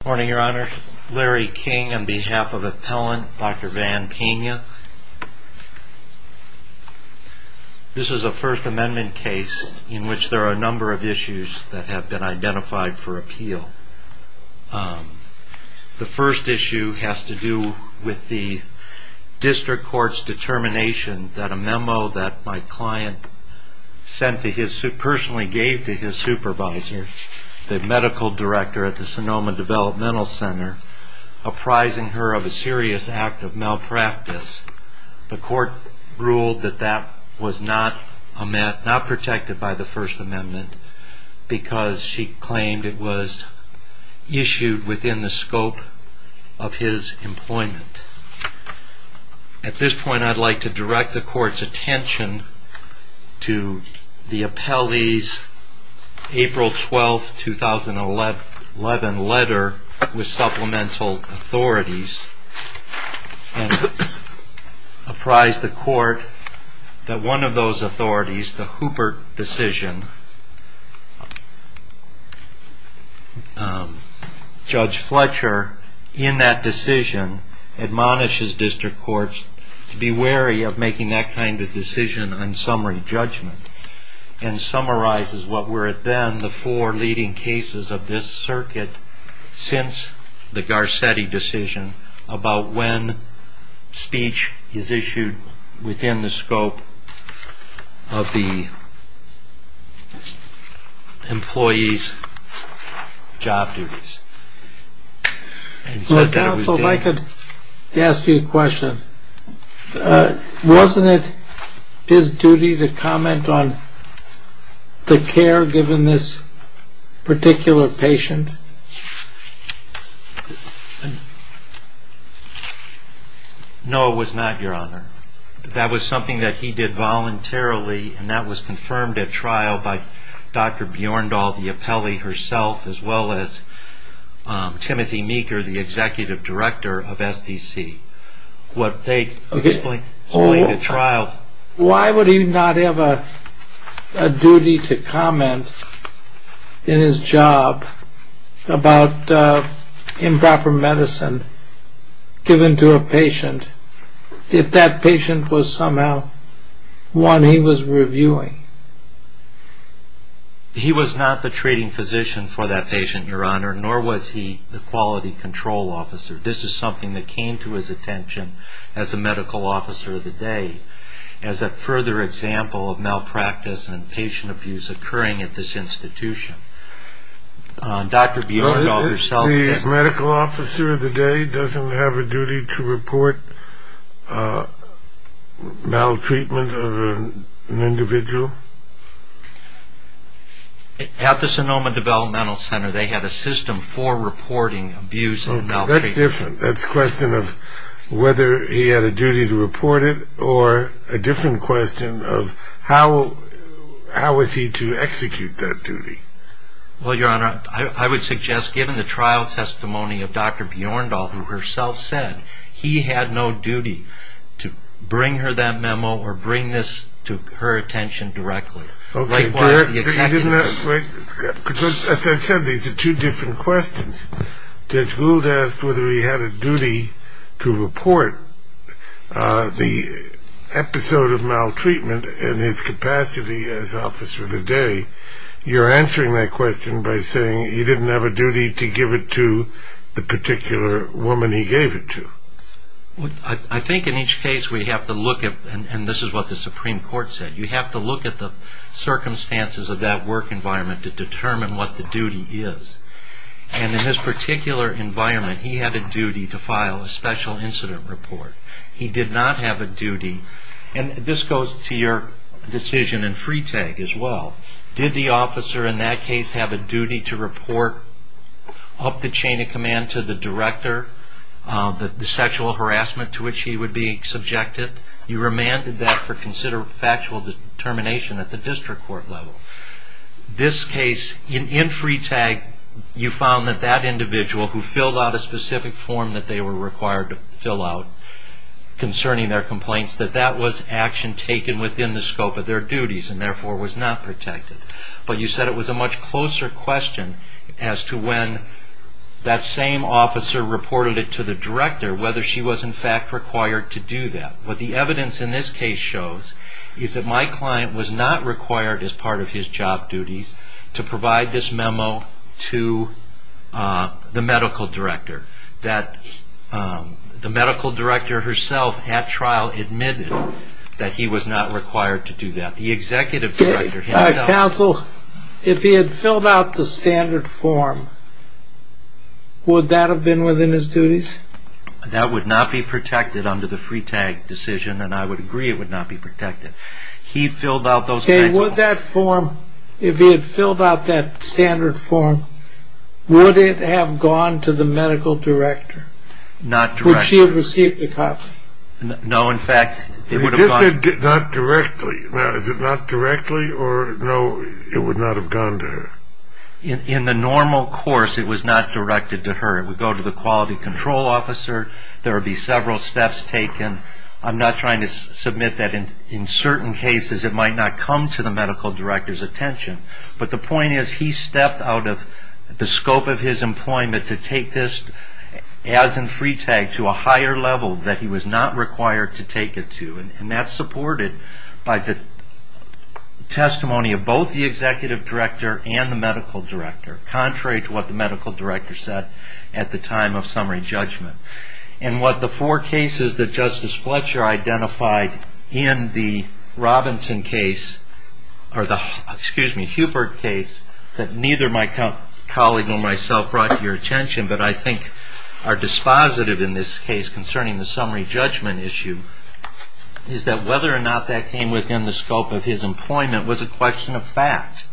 Good morning, Your Honor. Larry King on behalf of Appellant Dr. Van Pena. This is a First Amendment case in which there are a number of issues that have been identified for appeal. The first issue has to do with the district court's determination that a memo that my client personally gave to his supervisor, the medical director at the Sonoma Developmental Center, apprising her of a serious act of malpractice. The court ruled that that was not protected by the First Amendment because she claimed it was issued within the scope of his employment. At this point, I'd like to direct the court's attention to the appellee's April 12, 2011 letter with supplemental authorities and apprise the court that one of those authorities, the Hooper decision, Judge Fletcher, in that decision admonishes district courts to be wary of making that kind of decision on summary judgment and summarizes what were then the four leading cases of this circuit since the Garcetti decision about when speech is issued within the scope of the employee's job duties. Counsel, if I could ask you a question. Wasn't it his duty to comment on the care given this particular patient? No, it was not, Your Honor. That was something that he did voluntarily and that was confirmed at trial by Dr. Bjorndal, the appellee herself, as well as Timothy Meeker, the executive director of SDC. What they explained at trial... Why would he not have a duty to comment in his job about improper medicine given to a patient if that patient was somehow one he was reviewing? He was not the treating physician for that patient, Your Honor, nor was he the quality control officer. This is something that came to his attention as a medical officer of the day as a further example of malpractice and patient abuse occurring at this institution. Dr. Bjorndal herself... A medical officer of the day doesn't have a duty to report maltreatment of an individual? At the Sonoma Developmental Center, they had a system for reporting abuse and maltreatment. That's different. That's a question of whether he had a duty to report it or a different question of how was he to execute that duty. Well, Your Honor, I would suggest given the trial testimony of Dr. Bjorndal, who herself said he had no duty to bring her that memo or bring this to her attention directly. As I said, these are two different questions. Judge Gould asked whether he had a duty to report the episode of maltreatment in his capacity as officer of the day. You're answering that question by saying he didn't have a duty to give it to the particular woman he gave it to. I think in each case we have to look at, and this is what the Supreme Court said, you have to look at the circumstances of that work environment to determine what the duty is. And in this particular environment, he had a duty to file a special incident report. He did not have a duty, and this goes to your decision in Freetag as well, did the officer in that case have a duty to report up the chain of command to the director the sexual harassment to which he would be subjected? You remanded that for consider factual determination at the district court level. This case, in Freetag, you found that that individual who filled out a specific form that they were required to fill out concerning their complaints, that that was action taken within the scope of their duties and therefore was not protected. But you said it was a much closer question as to when that same officer reported it to the director whether she was in fact required to do that. What the evidence in this case shows is that my client was not required as part of his job duties to provide this memo to the medical director. The medical director herself at trial admitted that he was not required to do that. Counsel, if he had filled out the standard form, would that have been within his duties? That would not be protected under the Freetag decision, and I would agree it would not be protected. If he had filled out that standard form, would it have gone to the medical director? Not directly. Would she have received the copy? No, in fact, it would have gone... You just said not directly. Now, is it not directly, or no, it would not have gone to her? In the normal course, it was not directed to her. It would go to the quality control officer. There would be several steps taken. I'm not trying to submit that in certain cases it might not come to the medical director's attention, but the point is he stepped out of the scope of his employment to take this, as in Freetag, to a higher level that he was not required to take it to, and that's supported by the testimony of both the executive director and the medical director, contrary to what the medical director said at the time of summary judgment. And what the four cases that Justice Fletcher identified in the Robinson case, or the Hubert case, that neither my colleague nor myself brought to your attention, but I think are dispositive in this case concerning the summary judgment issue, is that whether or not that came within the scope of his employment was a question of fact,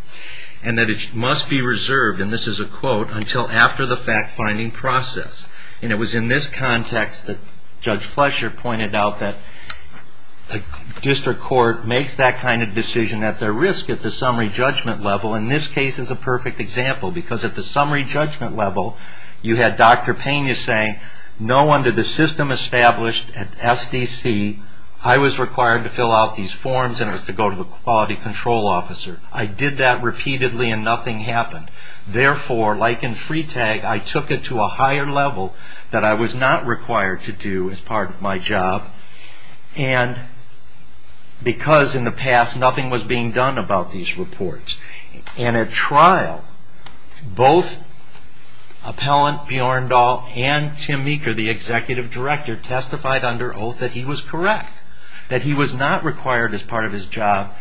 and that it must be reserved, and this is a quote, until after the fact-finding process. And it was in this context that Judge Fletcher pointed out that the district court makes that kind of decision at their risk at the summary judgment level, and this case is a perfect example, because at the summary judgment level, you had Dr. Pena saying, no, under the system established at SDC, I was required to fill out these forms, and it was to go to the quality control officer. I did that repeatedly, and nothing happened. Therefore, like in Freetag, I took it to a higher level that I was not required to do as part of my job, and because in the past nothing was being done about these reports. And at trial, both Appellant Bjorndal and Tim Meeker, the executive director, testified under oath that he was correct, that he was not required as part of his job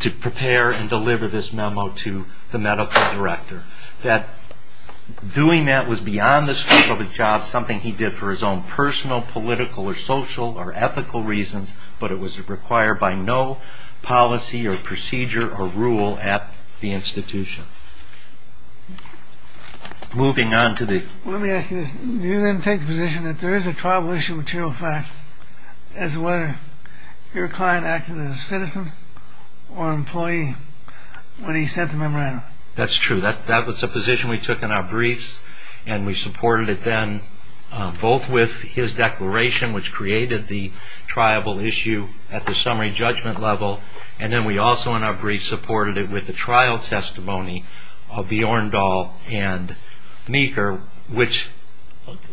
to prepare and deliver this memo to the medical director, that doing that was beyond the scope of his job, something he did for his own personal, political, or social, or ethical reasons, but it was required by no policy, or procedure, or rule at the institution. Moving on to the... Let me ask you this. Do you then take the position that there is a tribal issue material fact as to whether your client acted as a citizen or an employee when he sent the memorandum? That's true. That was the position we took in our briefs, and we supported it then, both with his declaration, which created the tribal issue at the summary judgment level, and then we also in our briefs supported it with the trial testimony of Bjorndal and Meeker, which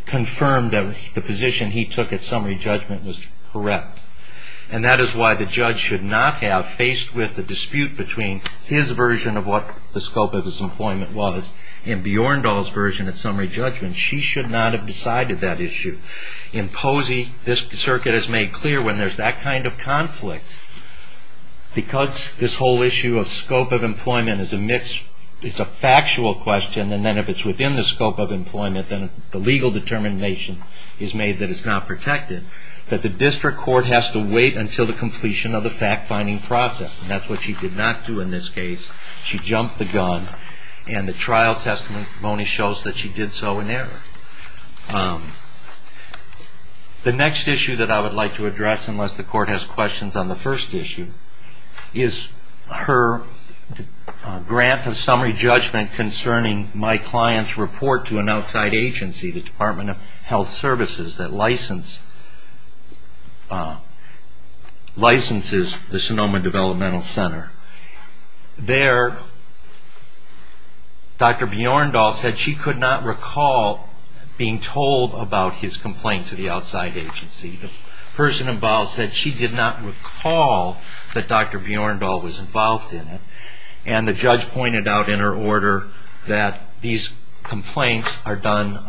confirmed that the position he took at summary judgment was correct. And that is why the judge should not have, faced with the dispute between his version of what the scope of his employment was and Bjorndal's version at summary judgment, she should not have decided that issue. In Posey, this circuit has made clear when there's that kind of conflict, because this whole issue of scope of employment is a factual question, and then if it's within the scope of employment, then the legal determination is made that it's not protected, that the district court has to wait until the completion of the fact-finding process, and that's what she did not do in this case. She jumped the gun, and the trial testimony shows that she did so in error. The next issue that I would like to address, unless the court has questions on the first issue, is her grant of summary judgment concerning my client's report to an outside agency, the Department of Health Services, that licenses the Sonoma Developmental Center. There, Dr. Bjorndal said she could not recall being told about his complaint to the outside agency. The person involved said she did not recall that Dr. Bjorndal was involved in it, and the judge pointed out in her order that these complaints are done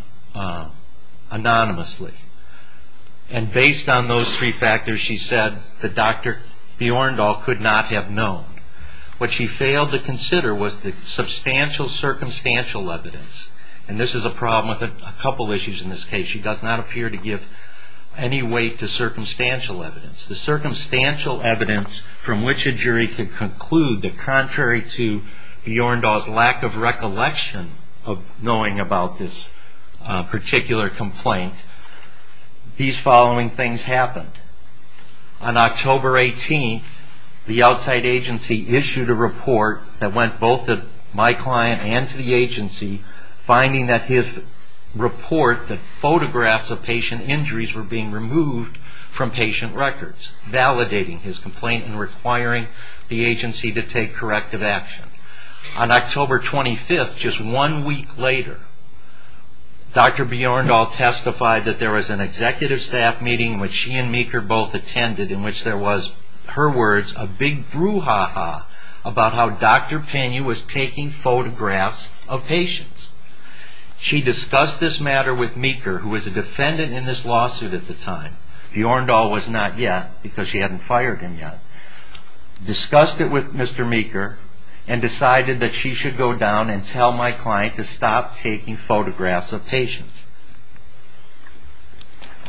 anonymously. And based on those three factors, she said that Dr. Bjorndal could not have known. What she failed to consider was the substantial circumstantial evidence, and this is a problem with a couple issues in this case. She does not appear to give any weight to circumstantial evidence. The circumstantial evidence from which a jury could conclude that, these following things happened. On October 18th, the outside agency issued a report that went both to my client and to the agency, finding that his report that photographs of patient injuries were being removed from patient records, validating his complaint and requiring the agency to take corrective action. On October 25th, just one week later, Dr. Bjorndal testified that there was an executive staff meeting which she and Meeker both attended, in which there was, her words, a big brouhaha about how Dr. Pena was taking photographs of patients. She discussed this matter with Meeker, who was a defendant in this lawsuit at the time. Bjorndal was not yet, because she hadn't fired him yet. Discussed it with Mr. Meeker and decided that she should go down and tell my client to stop taking photographs of patients.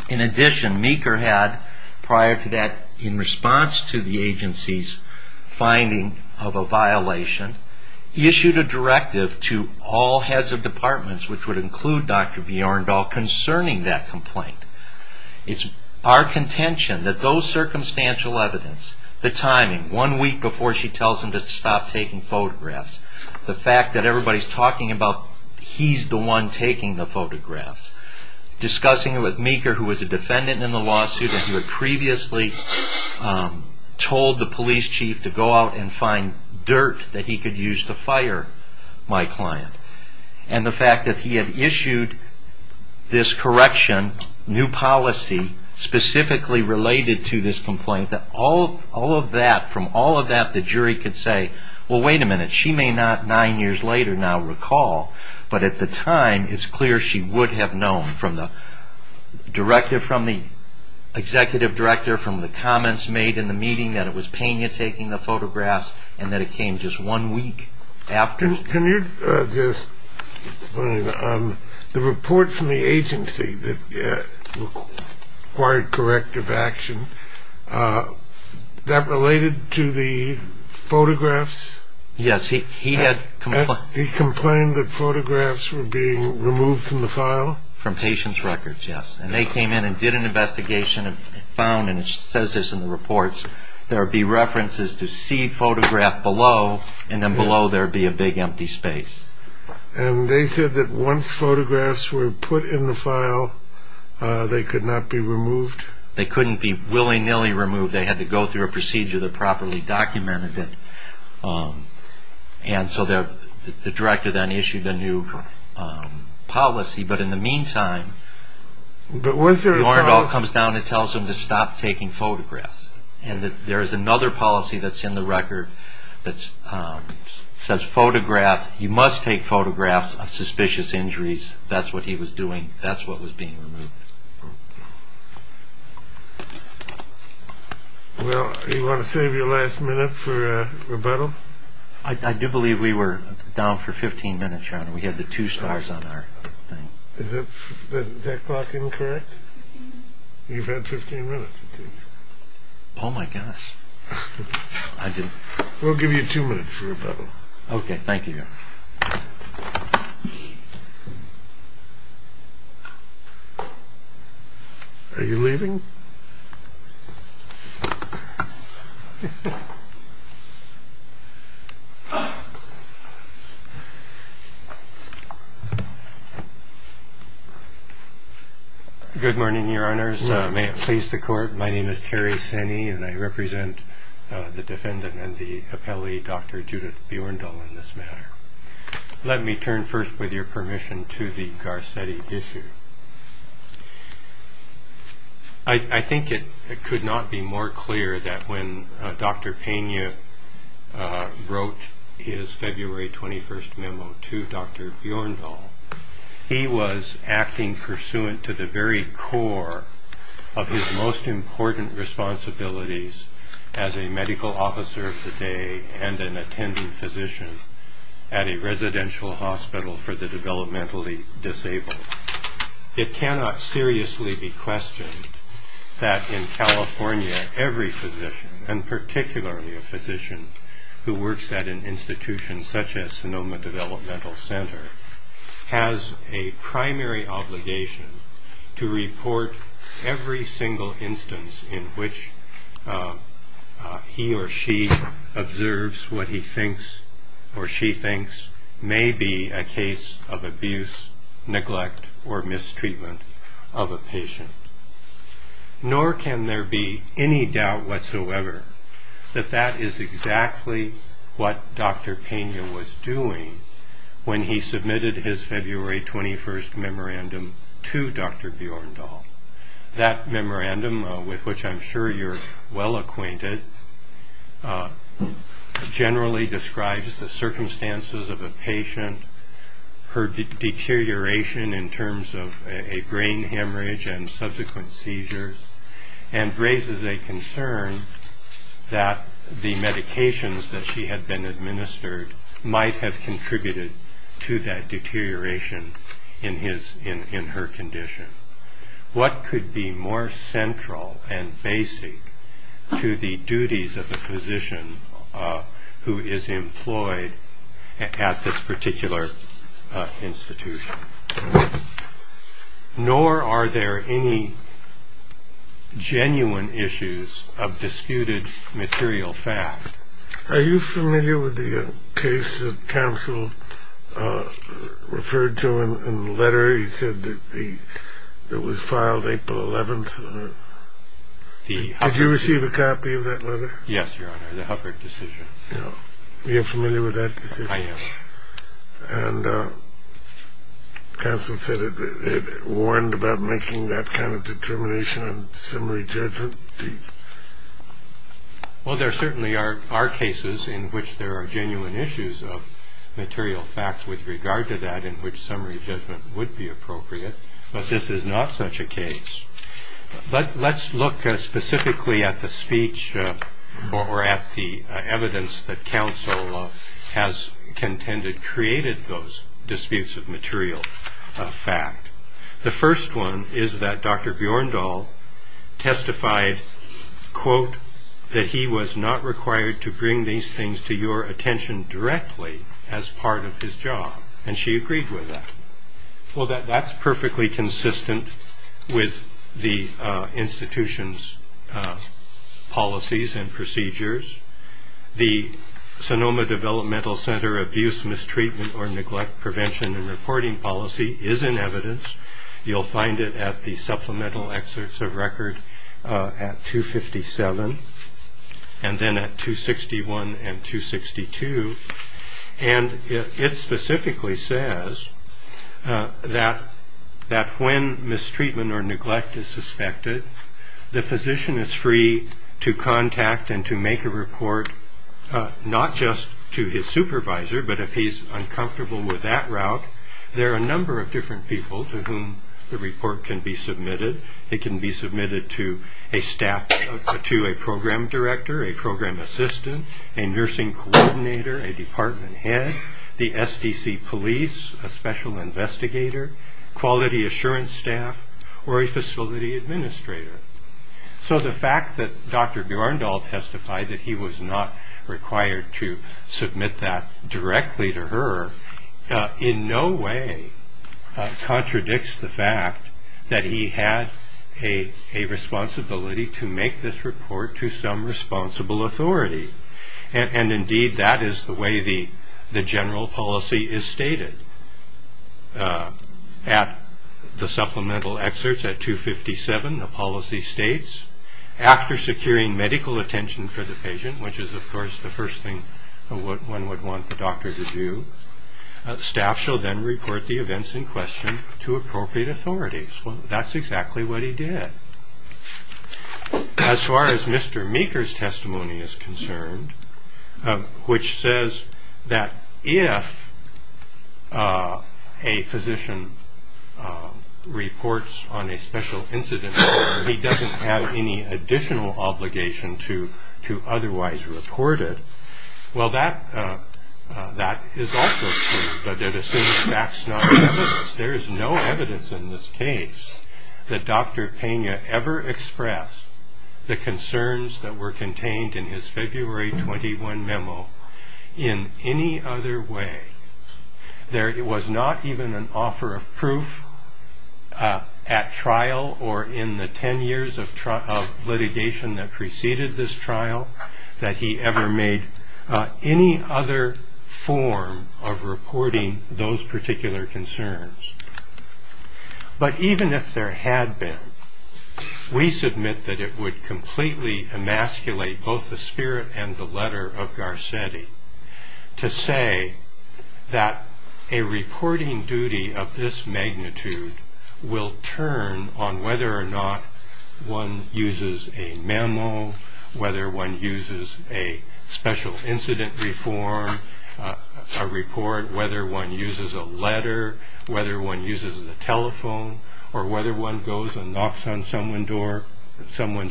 In addition, Meeker had, prior to that, in response to the agency's finding of a violation, issued a directive to all heads of departments, which would include Dr. Bjorndal, concerning that complaint. It's our contention that those circumstantial evidence, the timing, one week before she tells him to stop taking photographs, the fact that everybody's talking about he's the one taking the photographs, discussing it with Meeker, who was a defendant in the lawsuit, and who had previously told the police chief to go out and find dirt that he could use to fire my client, and the fact that he had issued this correction, new policy, specifically related to this complaint, that from all of that, the jury could say, well, wait a minute, she may not nine years later now recall, but at the time, it's clear she would have known from the executive director, from the comments made in the meeting that it was Pena taking the photographs, and that it came just one week after. Can you just explain, the report from the agency that required corrective action, that related to the photographs? Yes, he had... He complained that photographs were being removed from the file? From patient's records, yes. And they came in and did an investigation and found, and it says this in the reports, there would be references to see photograph below, and then below there would be a big empty space. And they said that once photographs were put in the file, they could not be removed? They couldn't be willy-nilly removed. They had to go through a procedure that properly documented it, and so the director then issued a new policy, but in the meantime, But was there a... Lorndahl comes down and tells them to stop taking photographs, and that there is another policy that's in the record that says photograph, you must take photographs of suspicious injuries, that's what he was doing, that's what was being removed. Well, do you want to save your last minute for rebuttal? I do believe we were down for 15 minutes, Your Honor, we had the two stars on our thing. Is that clock incorrect? You've had 15 minutes, it seems. Oh, my gosh. I didn't... We'll give you two minutes for rebuttal. Okay, thank you, Your Honor. Are you leaving? Good morning, Your Honors. May it please the Court, my name is Terry Sanney, and I represent the defendant and the appellee, Dr. Judith Bjørndahl, in this matter. Let me turn first, with your permission, to the Garcetti issue. I think it could not be more clear that when Dr. Peña wrote his February 21st memo to Dr. Bjørndahl, he was acting pursuant to the very core of his most important responsibilities as a medical officer of the day and an attending physician at a residential hospital for the developmentally disabled. It cannot seriously be questioned that in California every physician, and particularly a physician who works at an institution such as Sonoma Developmental Center, has a primary obligation to report every single instance in which he or she observes what he thinks or she thinks may be a case of abuse, neglect, or mistreatment of a patient. Nor can there be any doubt whatsoever that that is exactly what Dr. Peña was doing when he submitted his February 21st memorandum to Dr. Bjørndahl. That memorandum, with which I'm sure you're well acquainted, generally describes the circumstances of a patient, her deterioration in terms of a brain hemorrhage and subsequent seizures, and raises a concern that the medications that she had been administered might have contributed to that deterioration in her condition. What could be more central and basic to the duties of a physician who is employed at this particular institution? Nor are there any genuine issues of disputed material fact. Are you familiar with the case that counsel referred to in the letter? He said that it was filed April 11th. Did you receive a copy of that letter? Yes, Your Honor, the Hubbard decision. Are you familiar with that decision? I am. And counsel said it warned about making that kind of determination on summary judgment. Well, there certainly are cases in which there are genuine issues of material fact with regard to that in which summary judgment would be appropriate, but this is not such a case. Let's look specifically at the speech or at the evidence that counsel has contended created those disputes of material fact. The first one is that Dr. Bjorndal testified, quote, that he was not required to bring these things to your attention directly as part of his job, and she agreed with that. Well, that's perfectly consistent with the institution's policies and procedures. The Sonoma Developmental Center abuse, mistreatment, or neglect prevention and reporting policy is in evidence. You'll find it at the supplemental excerpts of record at 257 and then at 261 and 262. And it specifically says that when mistreatment or neglect is suspected, the physician is free to contact and to make a report not just to his supervisor, but if he's uncomfortable with that route, there are a number of different people to whom the report can be submitted. It can be submitted to a staff, to a program director, a program assistant, a nursing coordinator, a department head, the SDC police, a special investigator, quality assurance staff, or a facility administrator. So the fact that Dr. Bjorndal testified that he was not required to submit that directly to her in no way contradicts the fact that he had a responsibility to make this report to some responsible authority. And indeed, that is the way the general policy is stated. At the supplemental excerpts at 257, the policy states, after securing medical attention for the patient, which is, of course, the first thing one would want the doctor to do, staff shall then report the events in question to appropriate authorities. Well, that's exactly what he did. As far as Mr. Meeker's testimony is concerned, which says that if a physician reports on a special incident, he doesn't have any additional obligation to otherwise report it, well, that is also true, but it assumes that's not evidence. There is no evidence in this case that Dr. Pena ever expressed the concerns that were contained in his February 21 memo in any other way. There was not even an offer of proof at trial or in the 10 years of litigation that preceded this trial that he ever made any other form of reporting those particular concerns. But even if there had been, we submit that it would completely emasculate both the spirit and the letter of Garcetti to say that a reporting duty of this magnitude will turn on whether or not one uses a memo, whether one uses a special incident reform report, whether one uses a letter, whether one uses a telephone, or whether one goes and knocks on someone's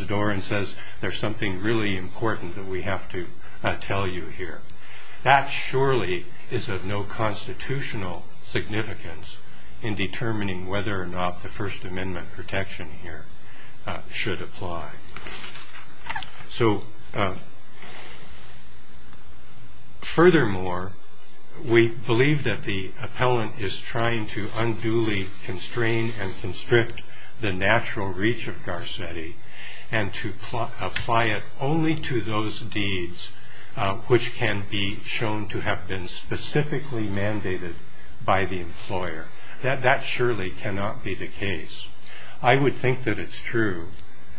door and says, there's something really important that we have to tell you here. That surely is of no constitutional significance in determining whether or not the First Amendment protection here should apply. So furthermore, we believe that the appellant is trying to unduly constrain and constrict the natural reach of Garcetti and to apply it only to those deeds which can be shown to have been specifically mandated by the employer. That surely cannot be the case. I would think that it's true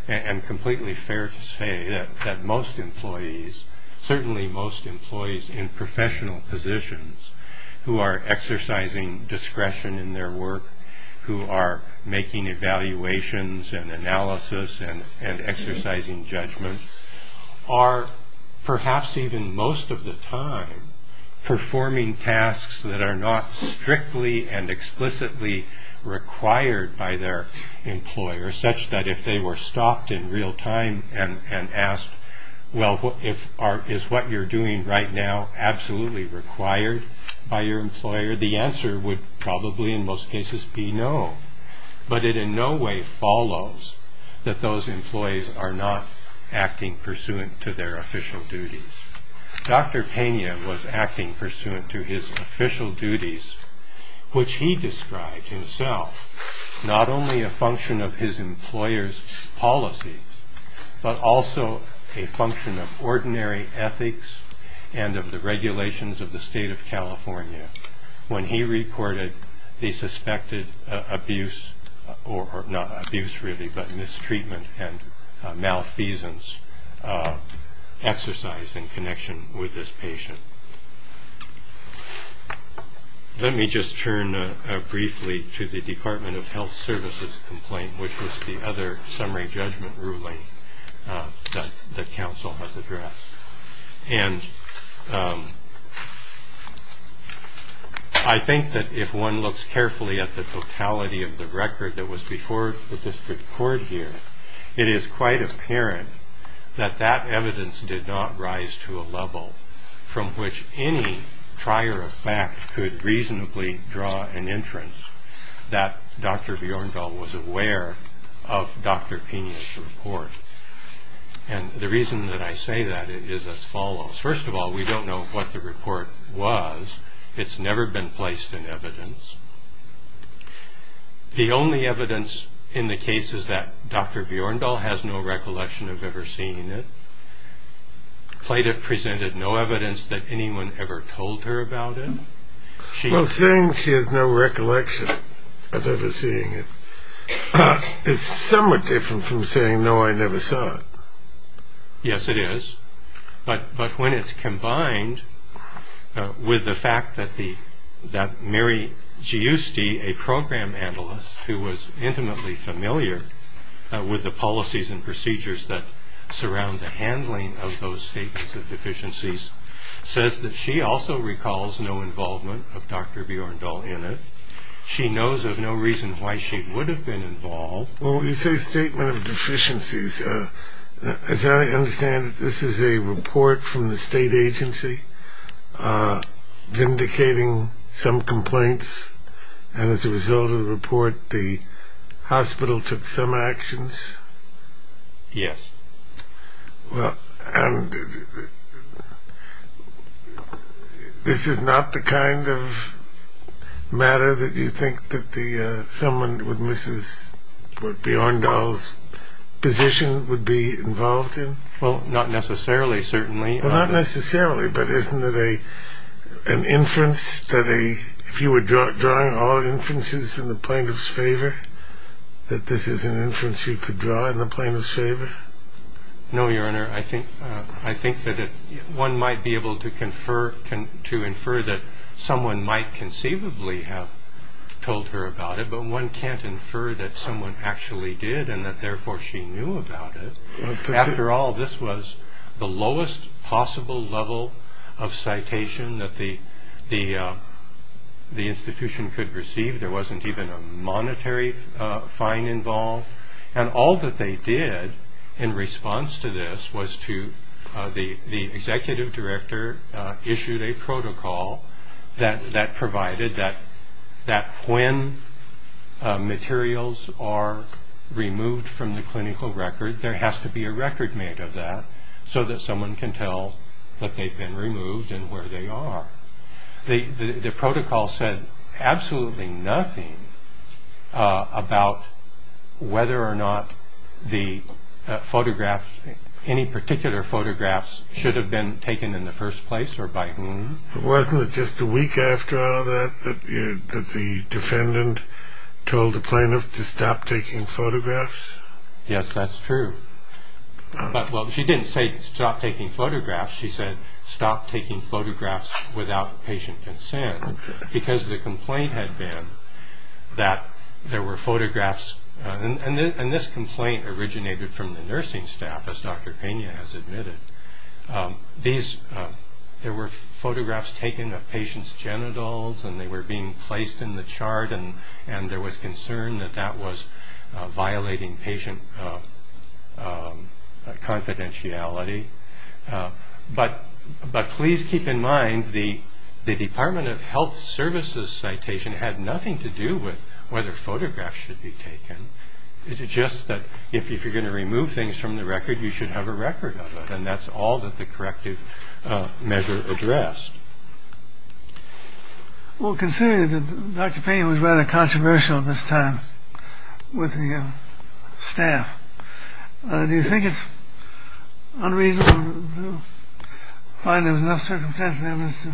and completely fair to say that most employees, certainly most employees in professional positions who are exercising discretion in their work, who are making evaluations and analysis and exercising judgment, are perhaps even most of the time performing tasks that are not strictly and explicitly required by their employer such that if they were stopped in real time and asked, well, is what you're doing right now absolutely required by your employer, the answer would probably in most cases be no. But it in no way follows that those employees are not acting pursuant to their official duties. Dr. Pena was acting pursuant to his official duties, which he described himself not only a function of his employer's policy, but also a function of ordinary ethics and of the regulations of the state of California when he reported the suspected abuse or not abuse really, but mistreatment and malfeasance exercised in connection with this patient. Let me just turn briefly to the Department of Health Services complaint, which was the other summary judgment ruling that the council has addressed. And I think that if one looks carefully at the totality of the record that was before the district court here, it is quite apparent that that evidence did not rise to a level from which any trier of fact could reasonably draw an inference that Dr. Bjørndal was aware of Dr. Pena's report. And the reason that I say that is as follows. First of all, we don't know what the report was. It's never been placed in evidence. The only evidence in the case is that Dr. Bjørndal has no recollection of ever seeing it. Plaintiff presented no evidence that anyone ever told her about it. Well, saying she has no recollection of ever seeing it is somewhat different from saying, no, I never saw it. Yes, it is. But when it's combined with the fact that Mary Giusti, a program analyst, who was intimately familiar with the policies and procedures that surround the handling of those statements of deficiencies, says that she also recalls no involvement of Dr. Bjørndal in it. She knows of no reason why she would have been involved. Well, you say statement of deficiencies. As I understand it, this is a report from the state agency vindicating some complaints. And as a result of the report, the hospital took some actions? Yes. Well, this is not the kind of matter that you think that someone with Mrs. Bjørndal's position would be involved in? Well, not necessarily, certainly. Well, not necessarily, but isn't it an inference that if you were drawing all inferences in the plaintiff's favor, that this is an inference you could draw in the plaintiff's favor? No, Your Honor. I think that one might be able to infer that someone might conceivably have told her about it, but one can't infer that someone actually did and that therefore she knew about it. After all, this was the lowest possible level of citation that the institution could receive. There wasn't even a monetary fine involved. And all that they did in response to this was to the executive director issued a protocol that provided that when materials are removed from the clinical record, there has to be a record made of that so that someone can tell that they've been removed and where they are. The protocol said absolutely nothing about whether or not any particular photographs should have been taken in the first place or by whom. Wasn't it just a week after all that that the defendant told the plaintiff to stop taking photographs? Yes, that's true. She didn't say stop taking photographs. She said stop taking photographs without patient consent because the complaint had been that there were photographs. And this complaint originated from the nursing staff, as Dr. Pena has admitted. There were photographs taken of patients' genitals and they were being placed in the chart and and there was concern that that was violating patient confidentiality. But but please keep in mind the the Department of Health Services citation had nothing to do with whether photographs should be taken. Is it just that if you're going to remove things from the record, you should have a record of it. And that's all that the corrective measure addressed. Well, considering that Dr. Pena was rather controversial at this time with the staff, do you think it's unreasonable to find there was enough circumstances to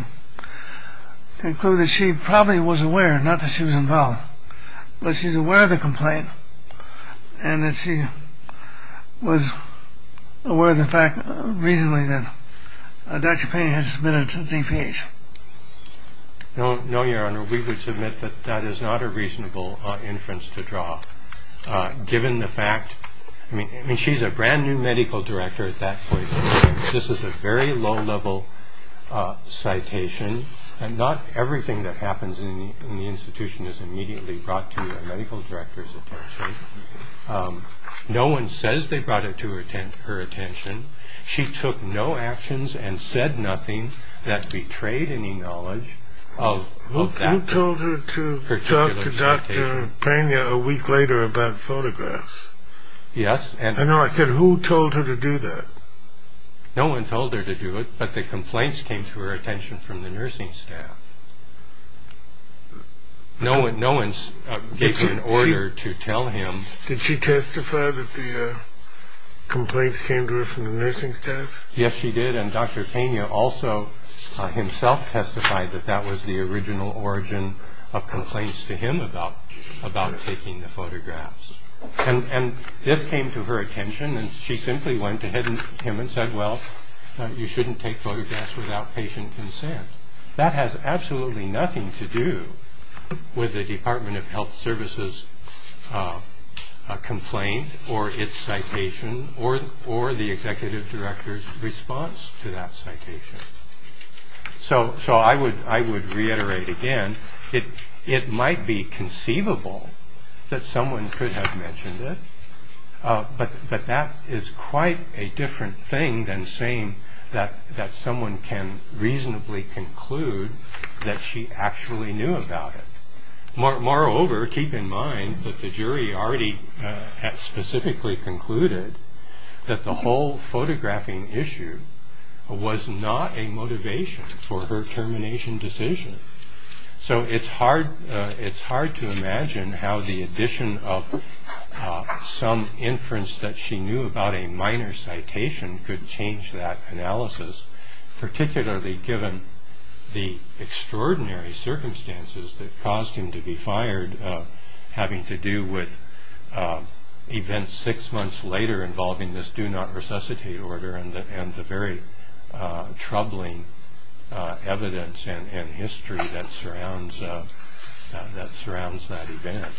conclude that she probably was aware, not that she was involved, but she's aware of the complaint and that she was aware of the fact reasonably that Dr. Pena had submitted a ZPH? No, no, Your Honor, we would submit that that is not a reasonable inference to draw, given the fact. I mean, I mean, she's a brand new medical director at that point. This is a very low level citation. And not everything that happens in the institution is immediately brought to the medical director's attention. No one says they brought it to her attention. Her attention. She took no actions and said nothing that betrayed any knowledge of that. Who told her to talk to Dr. Pena a week later about photographs? Yes. And I said, who told her to do that? No one told her to do it, but the complaints came to her attention from the nursing staff. No one, no one's given an order to tell him. Did she testify that the complaints came to her from the nursing staff? Yes, she did. And Dr. Pena also himself testified that that was the original origin of complaints to him about about taking the photographs. And this came to her attention. And she simply went to him and said, well, you shouldn't take photographs without patient consent. That has absolutely nothing to do with the Department of Health Services complaint or its citation or or the executive director's response to that citation. So so I would I would reiterate again, it it might be conceivable that someone could have mentioned it. But that is quite a different thing than saying that that someone can reasonably conclude that she actually knew about it. Moreover, keep in mind that the jury already had specifically concluded that the whole photographing issue was not a motivation for her termination decision. So it's hard. It's hard to imagine how the addition of some inference that she knew about a minor citation could change that analysis, particularly given the extraordinary circumstances that caused him to be fired, having to do with events six months later involving this do not resuscitate order and the very troubling evidence and history that surrounds that surrounds that event.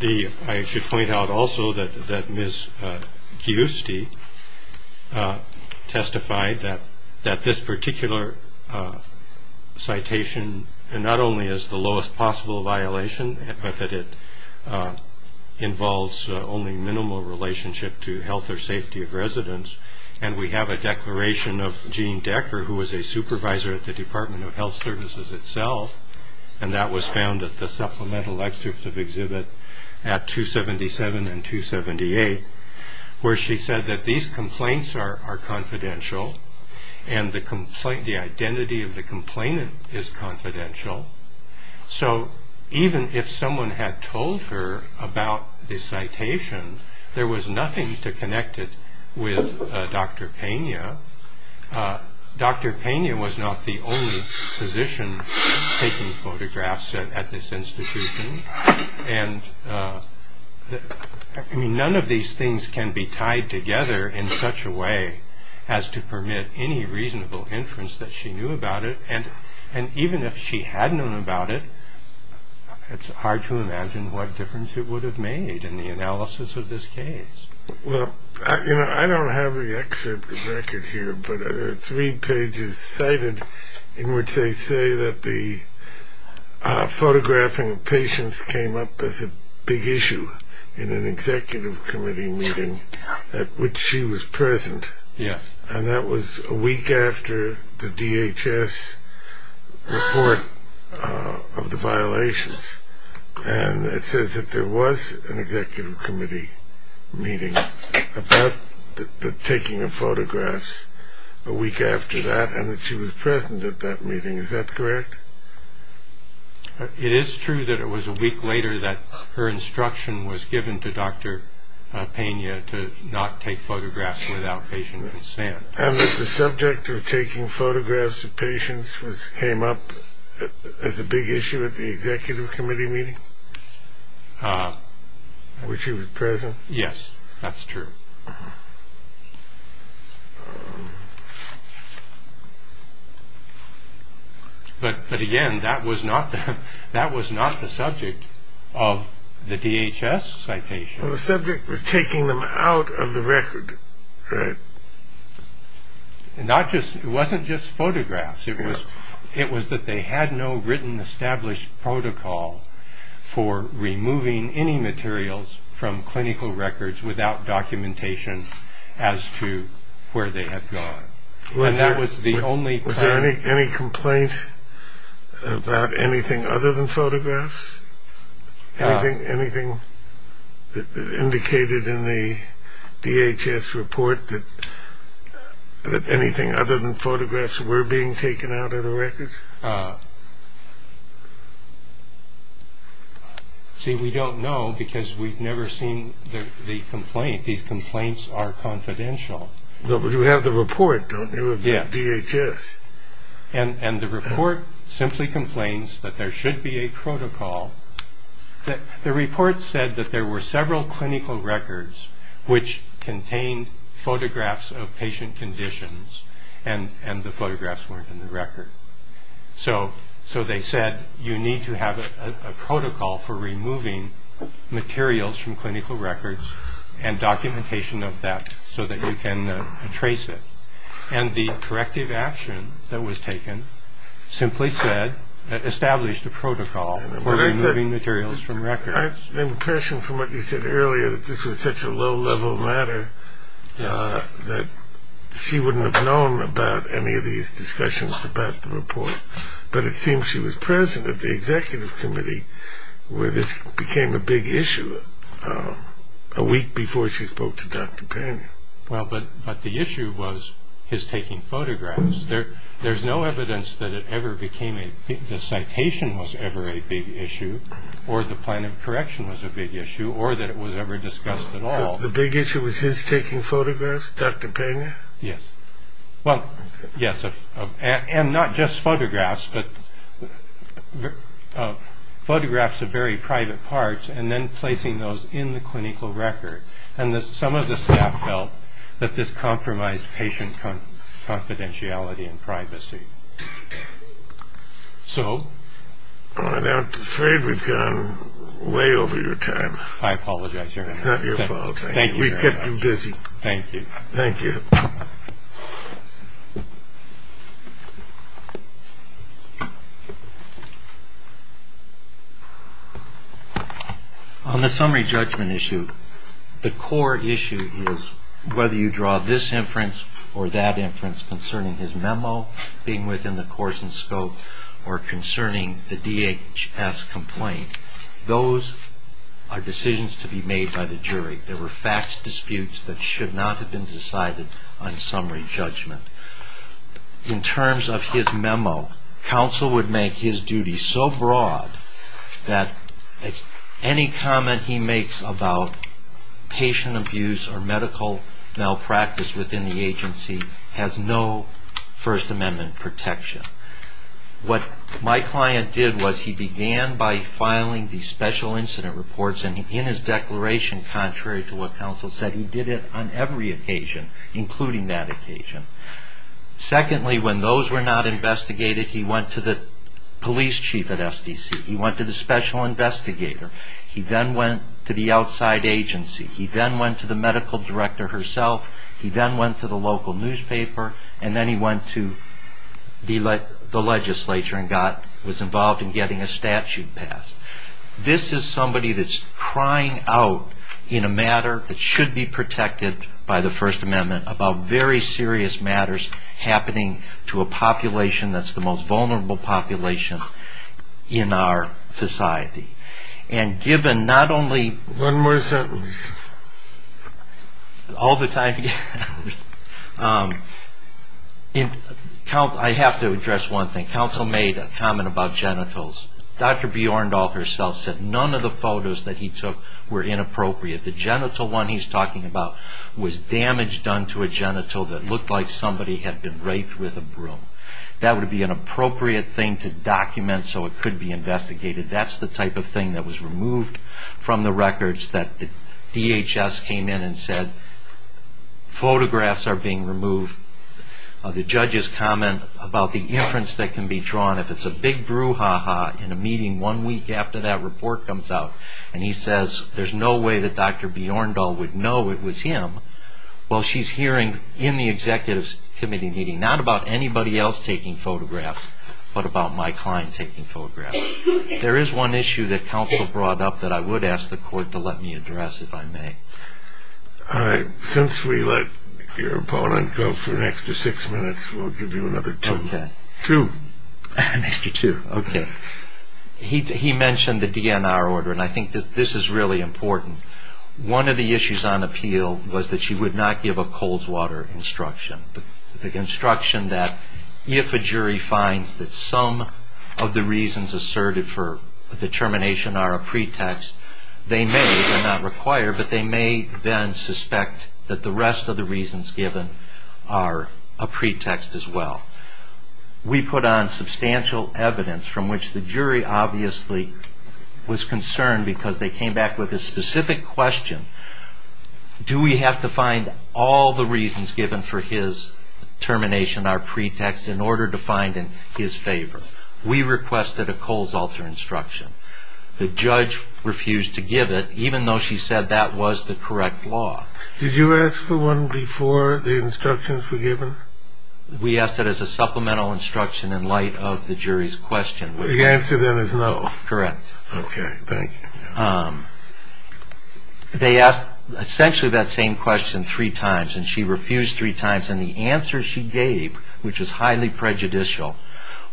The. I should point out also that that Miss Gusti testified that that this particular citation and not only is the lowest possible violation, but that it involves only minimal relationship to health or safety of residents. And we have a declaration of Jean Decker, who was a supervisor at the Department of Health Services itself. And that was found at the supplemental excerpts of exhibit at 277 and 278, where she said that these complaints are confidential and the complaint, the identity of the complainant is confidential. So even if someone had told her about this citation, there was nothing to connect it with Dr. Pena. Dr. Pena was not the only physician taking photographs at this institution. And I mean, none of these things can be tied together in such a way as to permit any reasonable inference that she knew about it. And and even if she had known about it, it's hard to imagine what difference it would have made in the analysis of this case. Well, you know, I don't have a record here, but three pages cited in which they say that the photographing of patients came up as a big issue in an executive committee meeting at which she was present. Yes. And that was a week after the DHS report of the violations. And it says that there was an executive committee meeting about the taking of photographs a week after that and that she was present at that meeting. Is that correct? It is true that it was a week later that her instruction was given to Dr. Pena to not take photographs without patient consent. And the subject of taking photographs of patients was came up as a big issue at the executive committee meeting. Which he was present. Yes, that's true. But but again, that was not that was not the subject of the DHS citation. The subject was taking them out of the record. And not just it wasn't just photographs. It was it was that they had no written established protocol for removing any materials from clinical records without documentation as to where they had gone. Was there any complaint about anything other than photographs? Anything that indicated in the DHS report that anything other than photographs were being taken out of the records? See, we don't know because we've never seen the complaint. These complaints are confidential. You have the report, don't you? And the report simply complains that there should be a protocol that the report said that there were several clinical records which contained photographs of patient conditions. And the photographs weren't in the record. So so they said, you need to have a protocol for removing materials from clinical records and documentation of that so that you can trace it. And the corrective action that was taken simply said that established a protocol for removing materials from records. I have the impression from what you said earlier that this was such a low level matter that she wouldn't have known about any of these discussions about the report. But it seems she was present at the executive committee where this became a big issue a week before she spoke to Dr. Pena. Well, but the issue was his taking photographs. There's no evidence that it ever became the citation was ever a big issue or the plan of correction was a big issue or that it was ever discussed at all. The big issue was his taking photographs. Dr. Pena. Yes. Well, yes. And not just photographs, but photographs of very private parts and then placing those in the clinical record. And some of the staff felt that this compromised patient confidentiality and privacy. So I'm afraid we've gone way over your time. I apologize. It's not your fault. We kept you busy. Thank you. Thank you. On the summary judgment issue. The core issue is whether you draw this inference or that inference concerning his memo being within the course and scope or concerning the DHS complaint. Those are decisions to be made by the jury. There were facts disputes that should not have been decided on summary judgment. In terms of his memo, counsel would make his duty so broad that any comment he makes about patient abuse or medical malpractice within the agency has no First Amendment protection. What my client did was he began by filing the special incident reports. And in his declaration, contrary to what counsel said, he did it on every occasion, including that occasion. Secondly, when those were not investigated, he went to the police chief at SDC. He went to the special investigator. He then went to the outside agency. He then went to the medical director herself. He then went to the local newspaper. And then he went to the legislature and was involved in getting a statute passed. This is somebody that's crying out in a matter that should be protected by the First Amendment about very serious matters happening to a population that's the most vulnerable population in our society. And given not only... One more sentence. All the time... I have to address one thing. Counsel made a comment about genitals. Dr. Bjorndal herself said none of the photos that he took were inappropriate. The genital one he's talking about was damage done to a genital that looked like somebody had been raped with a broom. That would be an appropriate thing to document so it could be investigated. That's the type of thing that was removed from the records that the DHS came in and said photographs are being removed. The judge's comment about the inference that can be drawn. If it's a big brouhaha in a meeting one week after that report comes out and he says there's no way that Dr. Bjorndal would know it was him, well she's hearing in the executive committee meeting not about anybody else taking photographs but about my client taking photographs. There is one issue that counsel brought up that I would ask the court to let me address if I may. Since we let your opponent go for an extra six minutes, we'll give you another two. Okay. Two. An extra two. Okay. He mentioned the DNR order and I think this is really important. One of the issues on appeal was that she would not give a Coleswater instruction. The instruction that if a jury finds that some of the reasons asserted for the termination are a pretext, they may not require but they may then suspect that the rest of the reasons given are a pretext as well. We put on substantial evidence from which the jury obviously was concerned because they came back with a specific question. Do we have to find all the reasons given for his termination are pretext in order to find in his favor? We requested a Coleswater instruction. The judge refused to give it even though she said that was the correct law. Did you ask for one before the instructions were given? We asked it as a supplemental instruction in light of the jury's question. The answer then is no. Correct. Okay. Thank you. They asked essentially that same question three times and she refused three times and the answer she gave, which is highly prejudicial,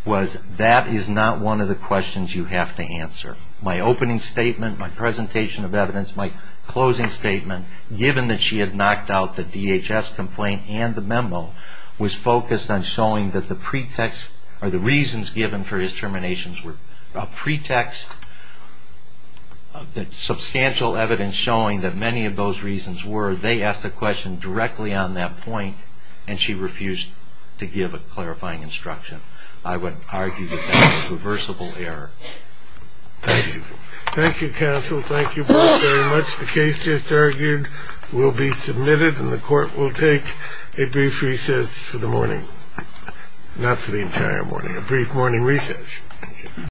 was that is not one of the questions you have to answer. My opening statement, my presentation of evidence, my closing statement, given that she had knocked out the DHS complaint and the memo, was focused on showing that the reasons given for his terminations were a pretext. The substantial evidence showing that many of those reasons were, they asked a question directly on that point and she refused to give a clarifying instruction. I would argue that that was a reversible error. Thank you. Thank you, counsel. Thank you both very much. The case just argued will be submitted and the court will take a brief recess for the morning. Not for the entire morning, a brief morning recess.